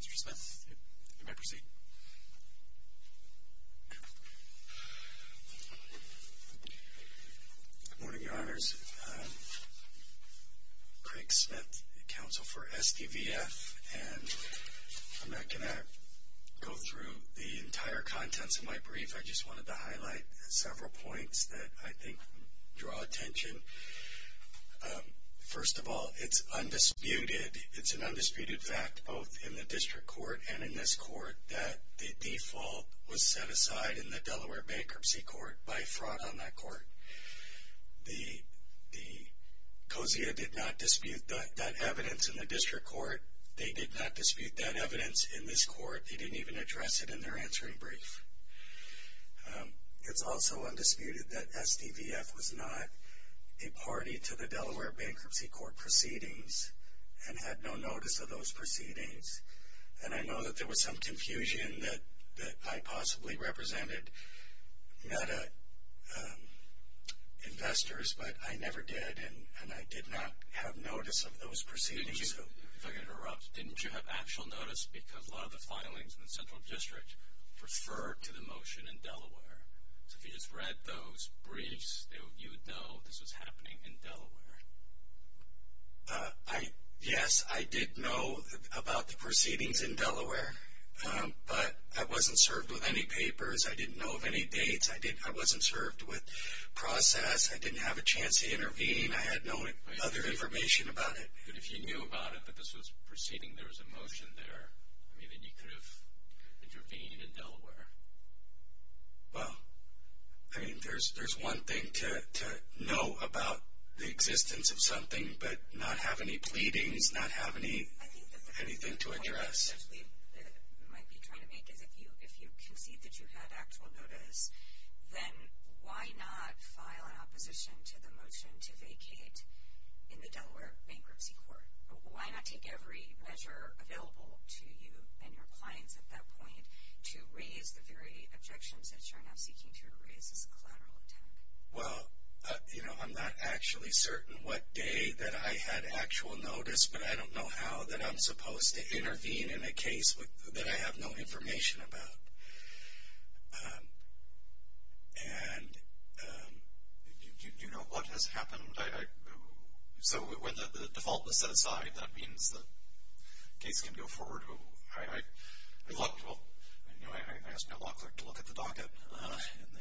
Mr. Smith, you may proceed. Good morning, Your Honors. Craig Smith, Counsel for SDVF. And I'm not going to go through the entire contents of my brief. I just wanted to highlight several points that I think draw attention. First of all, it's undisputed, it's an undisputed fact both in the district court and in this court that the default was set aside in the Delaware Bankruptcy Court by fraud on that court. The Cozzia did not dispute that evidence in the district court. They did not dispute that evidence in this court. They didn't even address it in their answering brief. It's also undisputed that SDVF was not a party to the Delaware Bankruptcy Court proceedings and had no notice of those proceedings. And I know that there was some confusion that I possibly represented meta investors, but I never did, and I did not have notice of those proceedings. If I could interrupt, didn't you have actual notice because a lot of the filings in the central district refer to the motion in Delaware? So if you just read those briefs, you would know this was happening in Delaware. Yes, I did know about the proceedings in Delaware, but I wasn't served with any papers. I didn't know of any dates. I wasn't served with process. I didn't have a chance to intervene. I had no other information about it. But if you knew about it, but this was a proceeding, there was a motion there, I mean, then you could have intervened in Delaware. Well, I mean, there's one thing to know about the existence of something but not have any pleadings, not have anything to address. I think the point that we might be trying to make is if you concede that you had actual notice, then why not file an opposition to the motion to vacate in the Delaware Bankruptcy Court? Why not take every measure available to you and your clients at that point to raise the very objections that you're now seeking to raise as a collateral attack? Well, you know, I'm not actually certain what day that I had actual notice, but I don't know how that I'm supposed to intervene in a case that I have no information about. Do you know what has happened? So when the default was set aside, that means the case can go forward? I asked my law clerk to look at the docket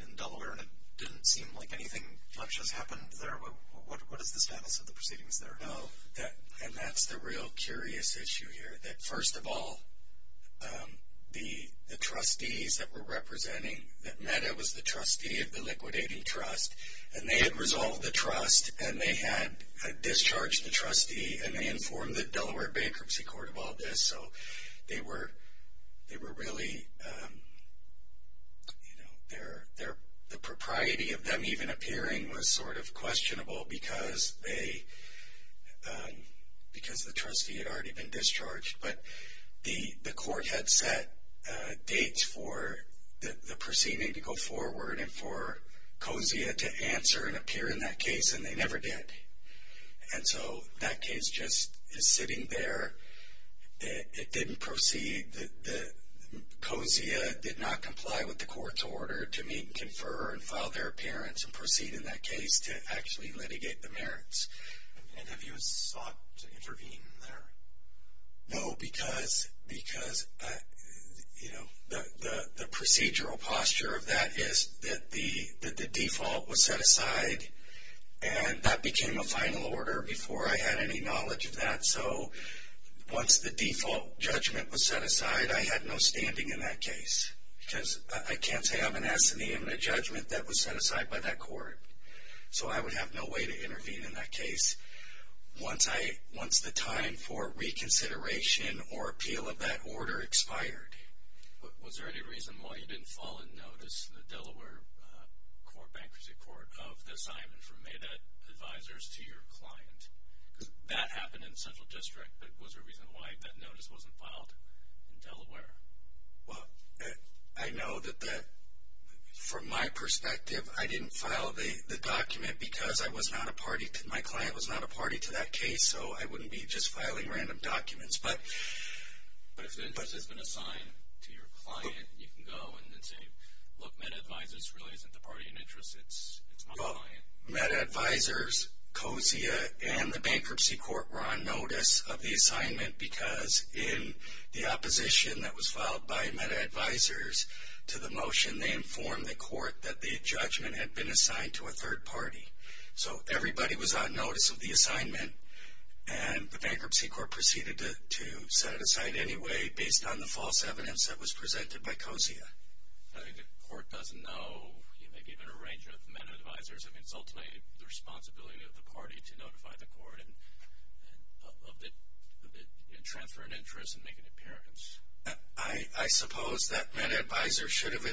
in Delaware, and it didn't seem like anything much has happened there. What is the status of the proceedings there? No, and that's the real curious issue here, that first of all, the trustees that were representing, that Meta was the trustee of the liquidating trust, and they had resolved the trust, and they had discharged the trustee, and they informed the Delaware Bankruptcy Court of all this. So they were really, you know, the propriety of them even appearing was sort of questionable because the trustee had already been discharged. But the court had set dates for the proceeding to go forward and for COSIA to answer and appear in that case, and they never did. And so that case just is sitting there. It didn't proceed. COSIA did not comply with the court's order to meet and confer and file their appearance and proceed in that case to actually litigate the merits. And have you sought to intervene there? No, because, you know, the procedural posture of that is that the default was set aside, and that became a final order before I had any knowledge of that. So once the default judgment was set aside, I had no standing in that case because I can't say I have an assiduity in a judgment that was set aside by that court. So I would have no way to intervene in that case once the time for reconsideration or appeal of that order expired. Was there any reason why you didn't file a notice to the Delaware Bankruptcy Court of the assignment from MEDA advisors to your client? Because that happened in Central District, but was there a reason why that notice wasn't filed in Delaware? Well, I know that from my perspective, I didn't file the document because I was not a party, my client was not a party to that case, so I wouldn't be just filing random documents. But if the interest has been assigned to your client, you can go and then say, look, MEDA advisors really isn't the party in interest, it's my client. MEDA advisors, COSIA, and the Bankruptcy Court were on notice of the assignment because in the opposition that was filed by MEDA advisors to the motion, they informed the court that the judgment had been assigned to a third party. So everybody was on notice of the assignment, and the Bankruptcy Court proceeded to set it aside anyway based on the false evidence that was presented by COSIA. I think the court doesn't know, maybe even a range of MEDA advisors, I mean it's ultimately the responsibility of the party to notify the court of the transfer of interest and make an appearance. I suppose that MEDA advisor should have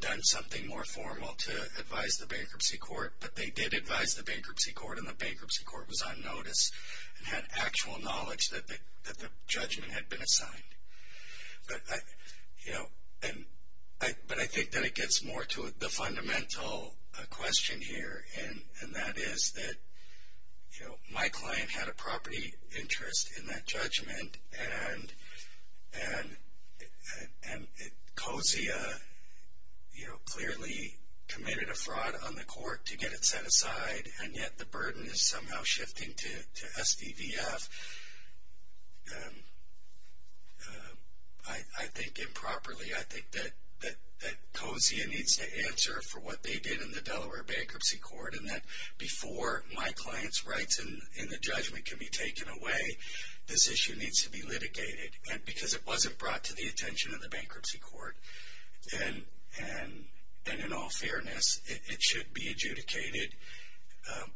done something more formal to advise the Bankruptcy Court, but they did advise the Bankruptcy Court, and the Bankruptcy Court was on notice and had actual knowledge that the judgment had been assigned. But I think that it gets more to the fundamental question here, and that is that my client had a property interest in that judgment, and COSIA clearly committed a fraud on the court to get it set aside, and yet the burden is somehow shifting to SDVF. I think improperly, I think that COSIA needs to answer for what they did in the Delaware Bankruptcy Court, and that before my client's rights in the judgment can be taken away, this issue needs to be litigated. And because it wasn't brought to the attention of the Bankruptcy Court, and in all fairness, it should be adjudicated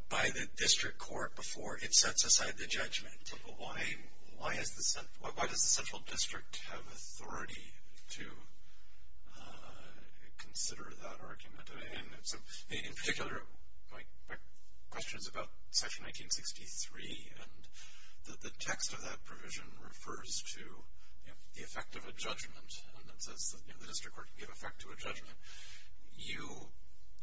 by the district court before it sets aside the judgment. Why does the central district have authority to consider that argument? In particular, my question is about section 1963, and the text of that provision refers to the effect of a judgment, and it says that the district court can give effect to a judgment. You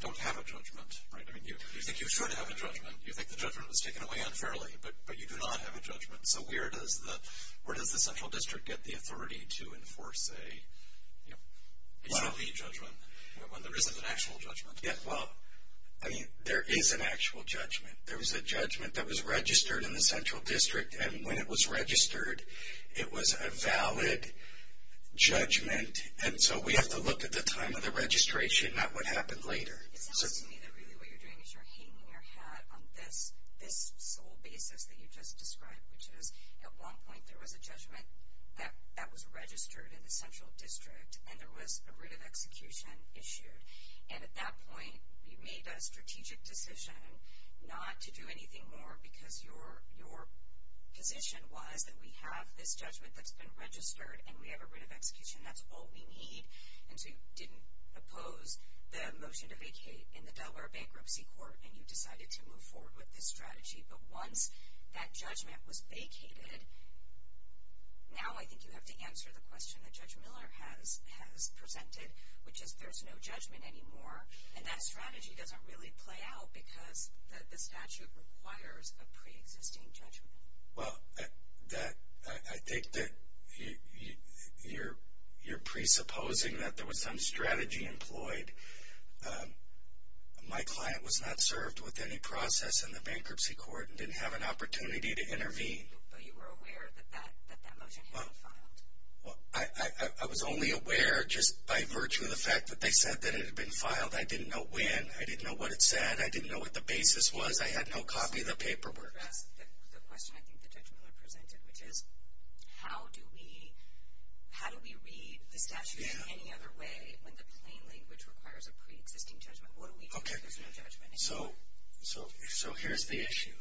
don't have a judgment, right? I mean, you think you should have a judgment. You think the judgment was taken away unfairly, but you do not have a judgment. So where does the central district get the authority to enforce a judgment when there isn't an actual judgment? Yeah, well, I mean, there is an actual judgment. There was a judgment that was registered in the central district, and when it was registered, it was a valid judgment. And so we have to look at the time of the registration, not what happened later. It sounds to me that really what you're doing is you're hanging your hat on this sole basis that you just described, which is at one point there was a judgment that was registered in the central district, and there was a writ of execution issued. And at that point, you made a strategic decision not to do anything more because your position was that we have this judgment that's been registered, and we have a writ of execution. That's all we need. And so you didn't oppose the motion to vacate in the Delaware Bankruptcy Court, and you decided to move forward with this strategy. But once that judgment was vacated, now I think you have to answer the question that Judge Miller has presented, which is there's no judgment anymore, and that strategy doesn't really play out because the statute requires a preexisting judgment. Well, I think that you're presupposing that there was some strategy employed. My client was not served with any process in the bankruptcy court and didn't have an opportunity to intervene. But you were aware that that motion had been filed. I was only aware just by virtue of the fact that they said that it had been filed. I didn't know when. I didn't know what it said. I didn't know what the basis was. I had no copy of the paperwork. The question I think that Judge Miller presented, which is how do we read the statute in any other way when the plain language requires a preexisting judgment? What do we do if there's no judgment anymore? So here's the issue.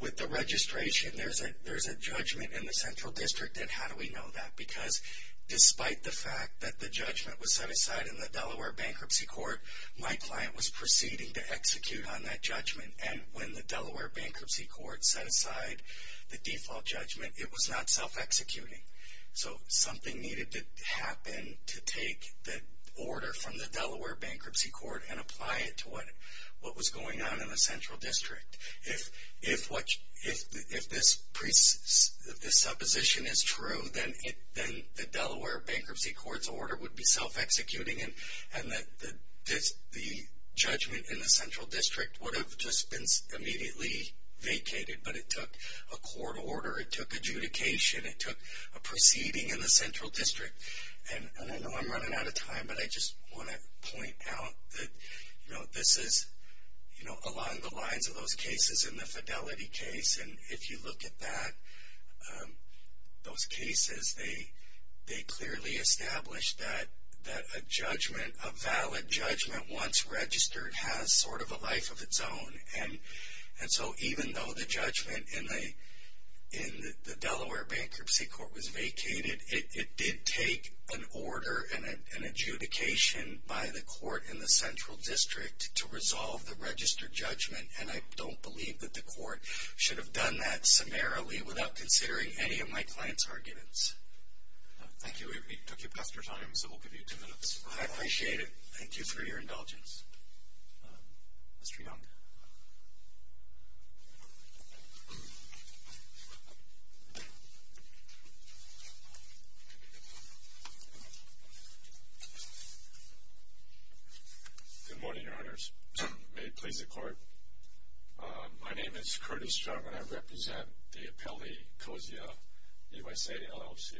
With the registration, there's a judgment in the central district, and how do we know that? Because despite the fact that the judgment was set aside in the Delaware Bankruptcy Court, my client was proceeding to execute on that judgment, and when the Delaware Bankruptcy Court set aside the default judgment, it was not self-executing. So something needed to happen to take the order from the Delaware Bankruptcy Court and apply it to what was going on in the central district. If this supposition is true, then the Delaware Bankruptcy Court's order would be self-executing, and the judgment in the central district would have just been immediately vacated, but it took a court order. It took adjudication. It took a proceeding in the central district. I know I'm running out of time, but I just want to point out that this is along the lines of those cases in the Fidelity case, and if you look at those cases, they clearly establish that a judgment, a valid judgment once registered has sort of a life of its own. And so even though the judgment in the Delaware Bankruptcy Court was vacated, it did take an order and an adjudication by the court in the central district to resolve the registered judgment, and I don't believe that the court should have done that summarily without considering any of my client's arguments. Thank you. We took you past your time, so we'll give you two minutes. I appreciate it. Thank you for your indulgence. Mr. Young. Good morning, Your Honors. May it please the Court. My name is Curtis Young, and I represent the appellee, COSIA USA LLC.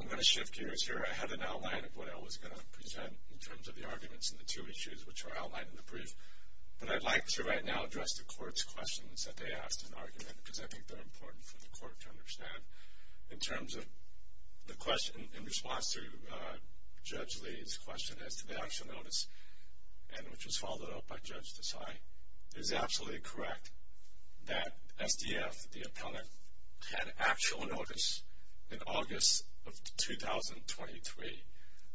I'm going to shift gears here. I had an outline of what I was going to present in terms of the arguments and the two issues which are outlined in the brief, but I'd like to right now address the court's questions that they asked in argument because I think they're important for the court to understand. In response to Judge Lee's question as to the actual notice, and which was followed up by Judge Desai, it is absolutely correct that SDF, the appellant, had actual notice in August of 2023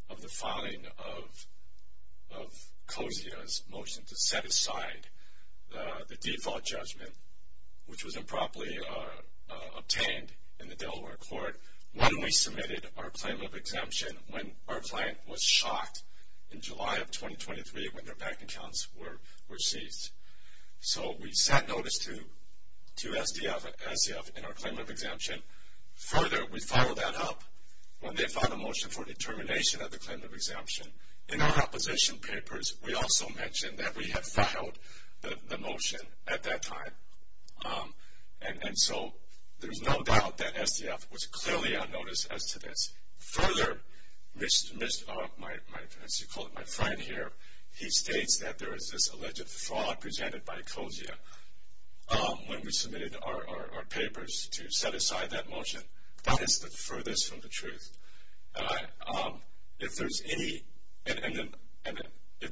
of the filing of COSIA's motion to set aside the default judgment, which was improperly obtained in the Delaware court, when we submitted our claim of exemption, when our client was shot in July of 2023 when their bank accounts were seized. So we set notice to SDF in our claim of exemption. Further, we filed that up when they filed a motion for determination of the claim of exemption. In our opposition papers, we also mentioned that we had filed the motion at that time, and so there's no doubt that SDF was clearly on notice as to this. Further, as you call it, my friend here, he states that there is this alleged fraud presented by COSIA when we submitted our papers to set aside that motion. That is the furthest from the truth. If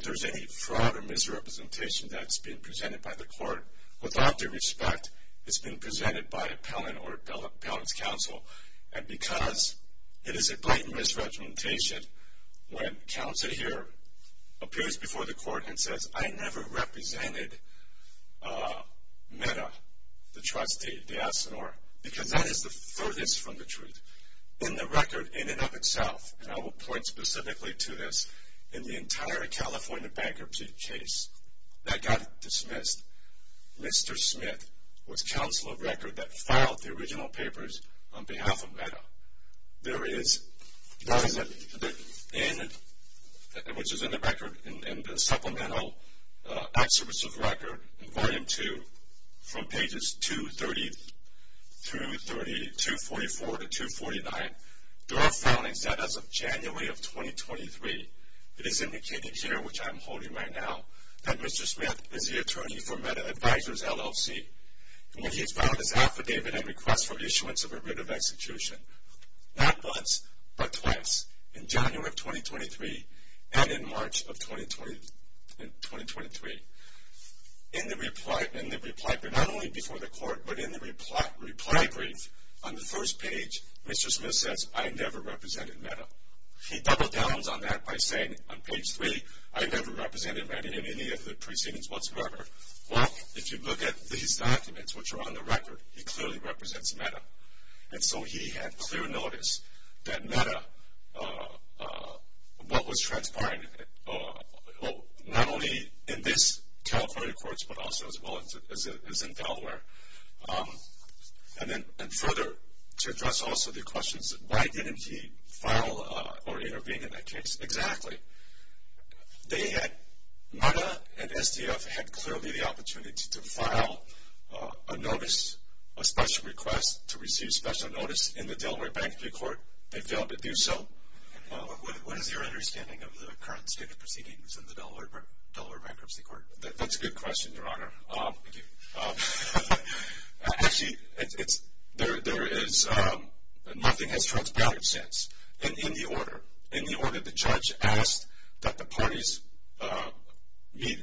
there's any fraud or misrepresentation that's been presented by the court, without their respect, it's been presented by appellant or appellant's counsel, and because it is a blatant misrepresentation when counsel here appears before the court and says, I never represented Meta, the trustee, D'Asenor, because that is the furthest from the truth. In the record, in and of itself, and I will point specifically to this, in the entire California bankruptcy case that got dismissed, Mr. Smith was counsel of record that filed the original papers on behalf of Meta. There is, which is in the record, in the supplemental excerpts of record, in volume two, from pages 234 to 249, there are foundings that as of January of 2023, it is indicated here, which I am holding right now, that Mr. Smith is the attorney for Meta Advisors, LLC, and that he has filed his affidavit and request for issuance of a writ of execution, not once, but twice, in January of 2023 and in March of 2023. In the reply, not only before the court, but in the reply brief, on the first page, Mr. Smith says, I never represented Meta. He double downs on that by saying, on page three, I never represented Meta in any of the proceedings whatsoever. Well, if you look at these documents, which are on the record, he clearly represents Meta. And so he had clear notice that Meta, what was transpiring, not only in this California courts, but also as well as in Delaware. And further, to address also the questions, why didn't he file or intervene in that case? Exactly. Meta and SDF had clearly the opportunity to file a notice, a special request to receive special notice in the Delaware Bankruptcy Court. They failed to do so. What is your understanding of the current state of the proceedings in the Delaware Bankruptcy Court? That's a good question, Your Honor. Thank you. Actually, nothing has transpired since in the order. In the order, the judge asked that the parties meet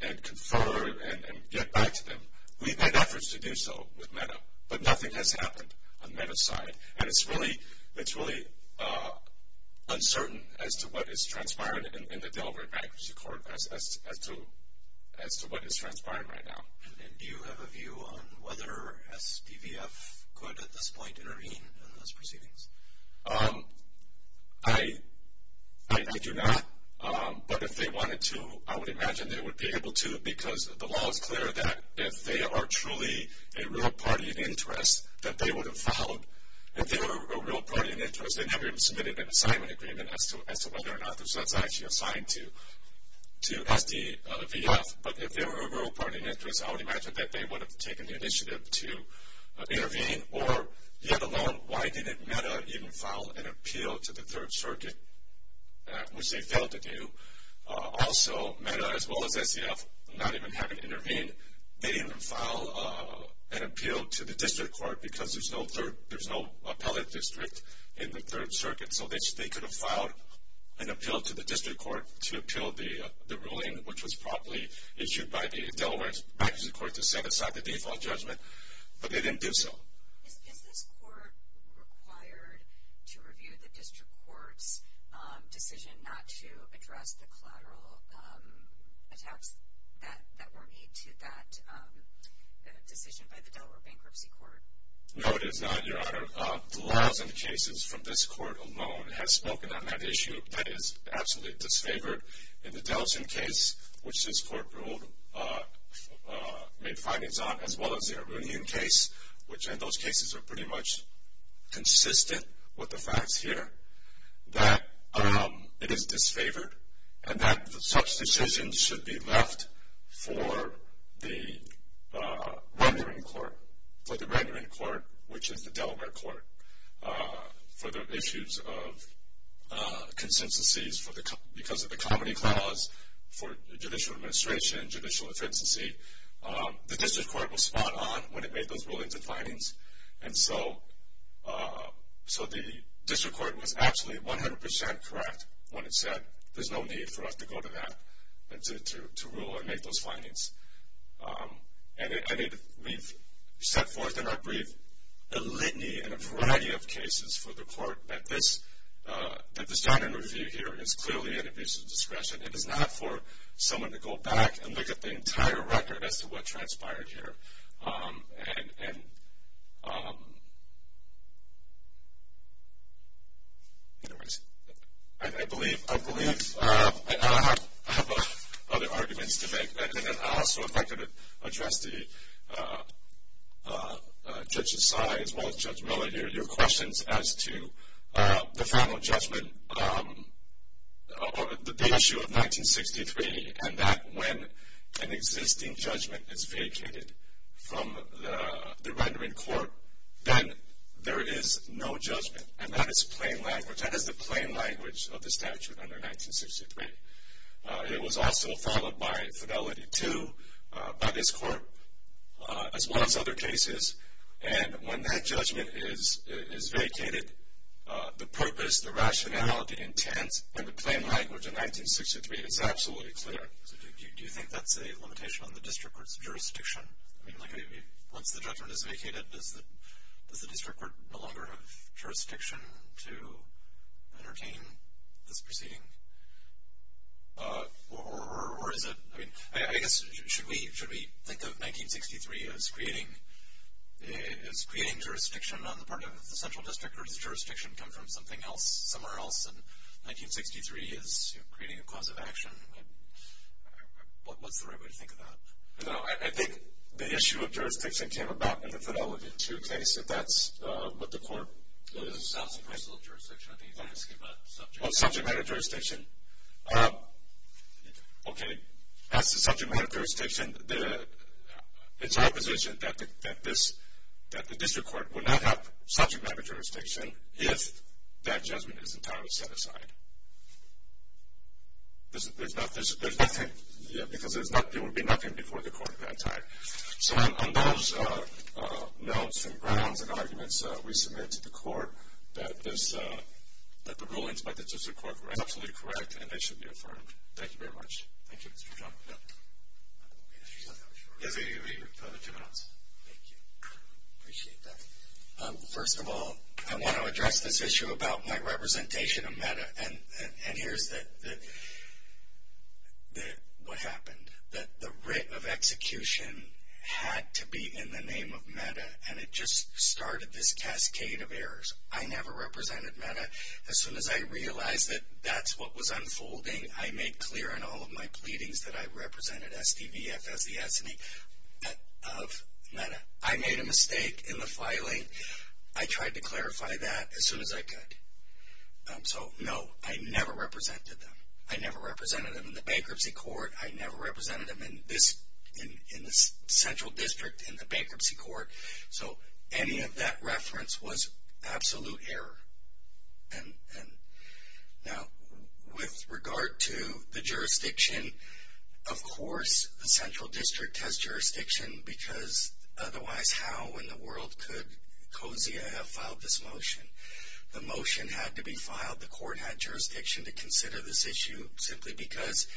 and confer and get back to them. We've had efforts to do so with Meta, but nothing has happened on Meta's side. And it's really uncertain as to what has transpired in the Delaware Bankruptcy Court as to what is transpiring right now. And do you have a view on whether SDVF could, at this point, intervene in those proceedings? I do not. But if they wanted to, I would imagine they would be able to, because the law is clear that if they are truly a real party of interest, that they would have filed. If they were a real party of interest, they never even submitted an assignment agreement as to whether or not they were actually assigned to SDVF. But if they were a real party of interest, I would imagine that they would have taken the initiative to intervene. Or, let alone, why didn't Meta even file an appeal to the Third Circuit, which they failed to do? Also, Meta, as well as SDF, not even having intervened, they didn't even file an appeal to the District Court, because there's no appellate district in the Third Circuit. So they could have filed an appeal to the District Court to appeal the ruling, which was promptly issued by the Delaware Bankruptcy Court to set aside the default judgment. But they didn't do so. Is this court required to review the District Court's decision not to address the collateral attacks that were made to that decision by the Delaware Bankruptcy Court? No, it is not, Your Honor. The Lawson cases from this court alone have spoken on that issue. That is absolutely disfavored. In the Delson case, which this court ruled, made findings on, as well as the Arunian case, which in those cases are pretty much consistent with the facts here, that it is disfavored and that such decisions should be left for the rendering court, for the rendering court, which is the Delaware Court, for the issues of consistencies because of the comedy clause for judicial administration, judicial efficiency, the District Court was spot on when it made those rulings and findings. And so the District Court was absolutely 100% correct when it said, there's no need for us to go to that to rule and make those findings. And we've set forth in our brief a litany and a variety of cases for the court that the stand-in review here is clearly an abuse of discretion. It is not for someone to go back and look at the entire record as to what transpired here. I believe I have other arguments to make. I also would like to address Judge Asai as well as Judge Miller here, your questions as to the final judgment, the issue of 1963, and that when an existing judgment is vacated from the rendering court, then there is no judgment. And that is plain language. That is the plain language of the statute under 1963. It was also followed by Fidelity II, by this court, as well as other cases. And when that judgment is vacated, the purpose, the rationale, the intent, and the plain language of 1963 is absolutely clear. Do you think that's a limitation on the District Court's jurisdiction? I mean, once the judgment is vacated, does the District Court no longer have jurisdiction to entertain this proceeding? Or is it? I mean, I guess, should we think of 1963 as creating jurisdiction on the part of the central district or does jurisdiction come from something else, somewhere else, and 1963 is creating a cause of action? What's the right way to think of that? No, I think the issue of jurisdiction came about with the Fidelity II case, if that's what the court is asking. Well, this is not the principle of jurisdiction. I think he's asking about subject matter jurisdiction. Oh, subject matter jurisdiction. Okay, as to subject matter jurisdiction, it's our position that the District Court will not have subject matter jurisdiction if that judgment is entirely set aside. There's nothing, because there would be nothing before the court at that time. So on those notes and grounds and arguments, we submit to the court that the rulings by the District Court were absolutely correct and they should be affirmed. Thank you very much. Thank you, Mr. John. Yes, we have two minutes. Thank you. Appreciate that. First of all, I want to address this issue about my representation of META, and here's what happened. The writ of execution had to be in the name of META, and it just started this cascade of errors. I never represented META. As soon as I realized that that's what was unfolding, I made clear in all of my pleadings that I represented SDVF as the S&E of META. I made a mistake in the filing. I tried to clarify that as soon as I could. So, no, I never represented them. I never represented them in the bankruptcy court. I never represented them in this central district in the bankruptcy court. So any of that reference was absolute error. Now, with regard to the jurisdiction, of course the central district has jurisdiction because otherwise how in the world could COSIA have filed this motion? The motion had to be filed. The court had jurisdiction to consider this issue simply because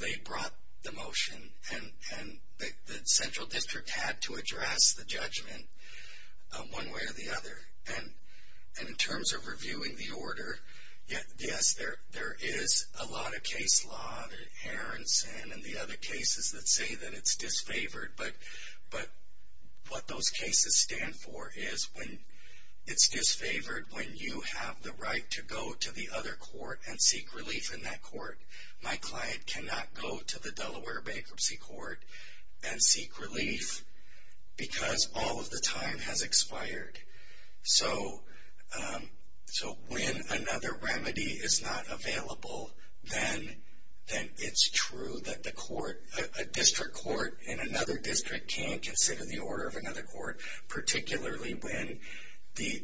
they brought the motion and the central district had to address the judgment one way or the other. And in terms of reviewing the order, yes, there is a lot of case law, the Herensen and the other cases that say that it's disfavored, but what those cases stand for is when it's disfavored when you have the right to go to the other court and seek relief in that court. My client cannot go to the Delaware bankruptcy court and seek relief because all of the time has expired. So when another remedy is not available, then it's true that a district court in another district can't consider the order of another court, particularly when the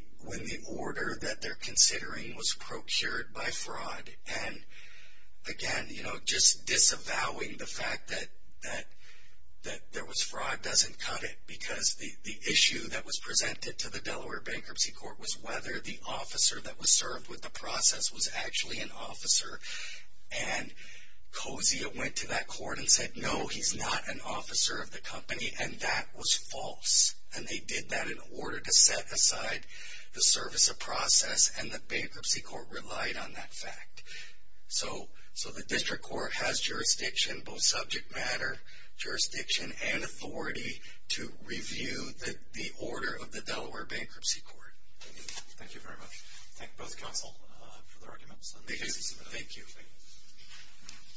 order that they're considering was procured by fraud. And, again, just disavowing the fact that there was fraud doesn't cut it because the issue that was presented to the Delaware bankruptcy court was whether the officer that was served with the process was actually an officer. And Kosia went to that court and said, no, he's not an officer of the company, and that was false. And they did that in order to set aside the service of process, and the bankruptcy court relied on that fact. So the district court has jurisdiction, both subject matter jurisdiction and authority, to review the order of the Delaware bankruptcy court. Thank you. Thank you very much. Thank both counsel for the arguments. Thank you.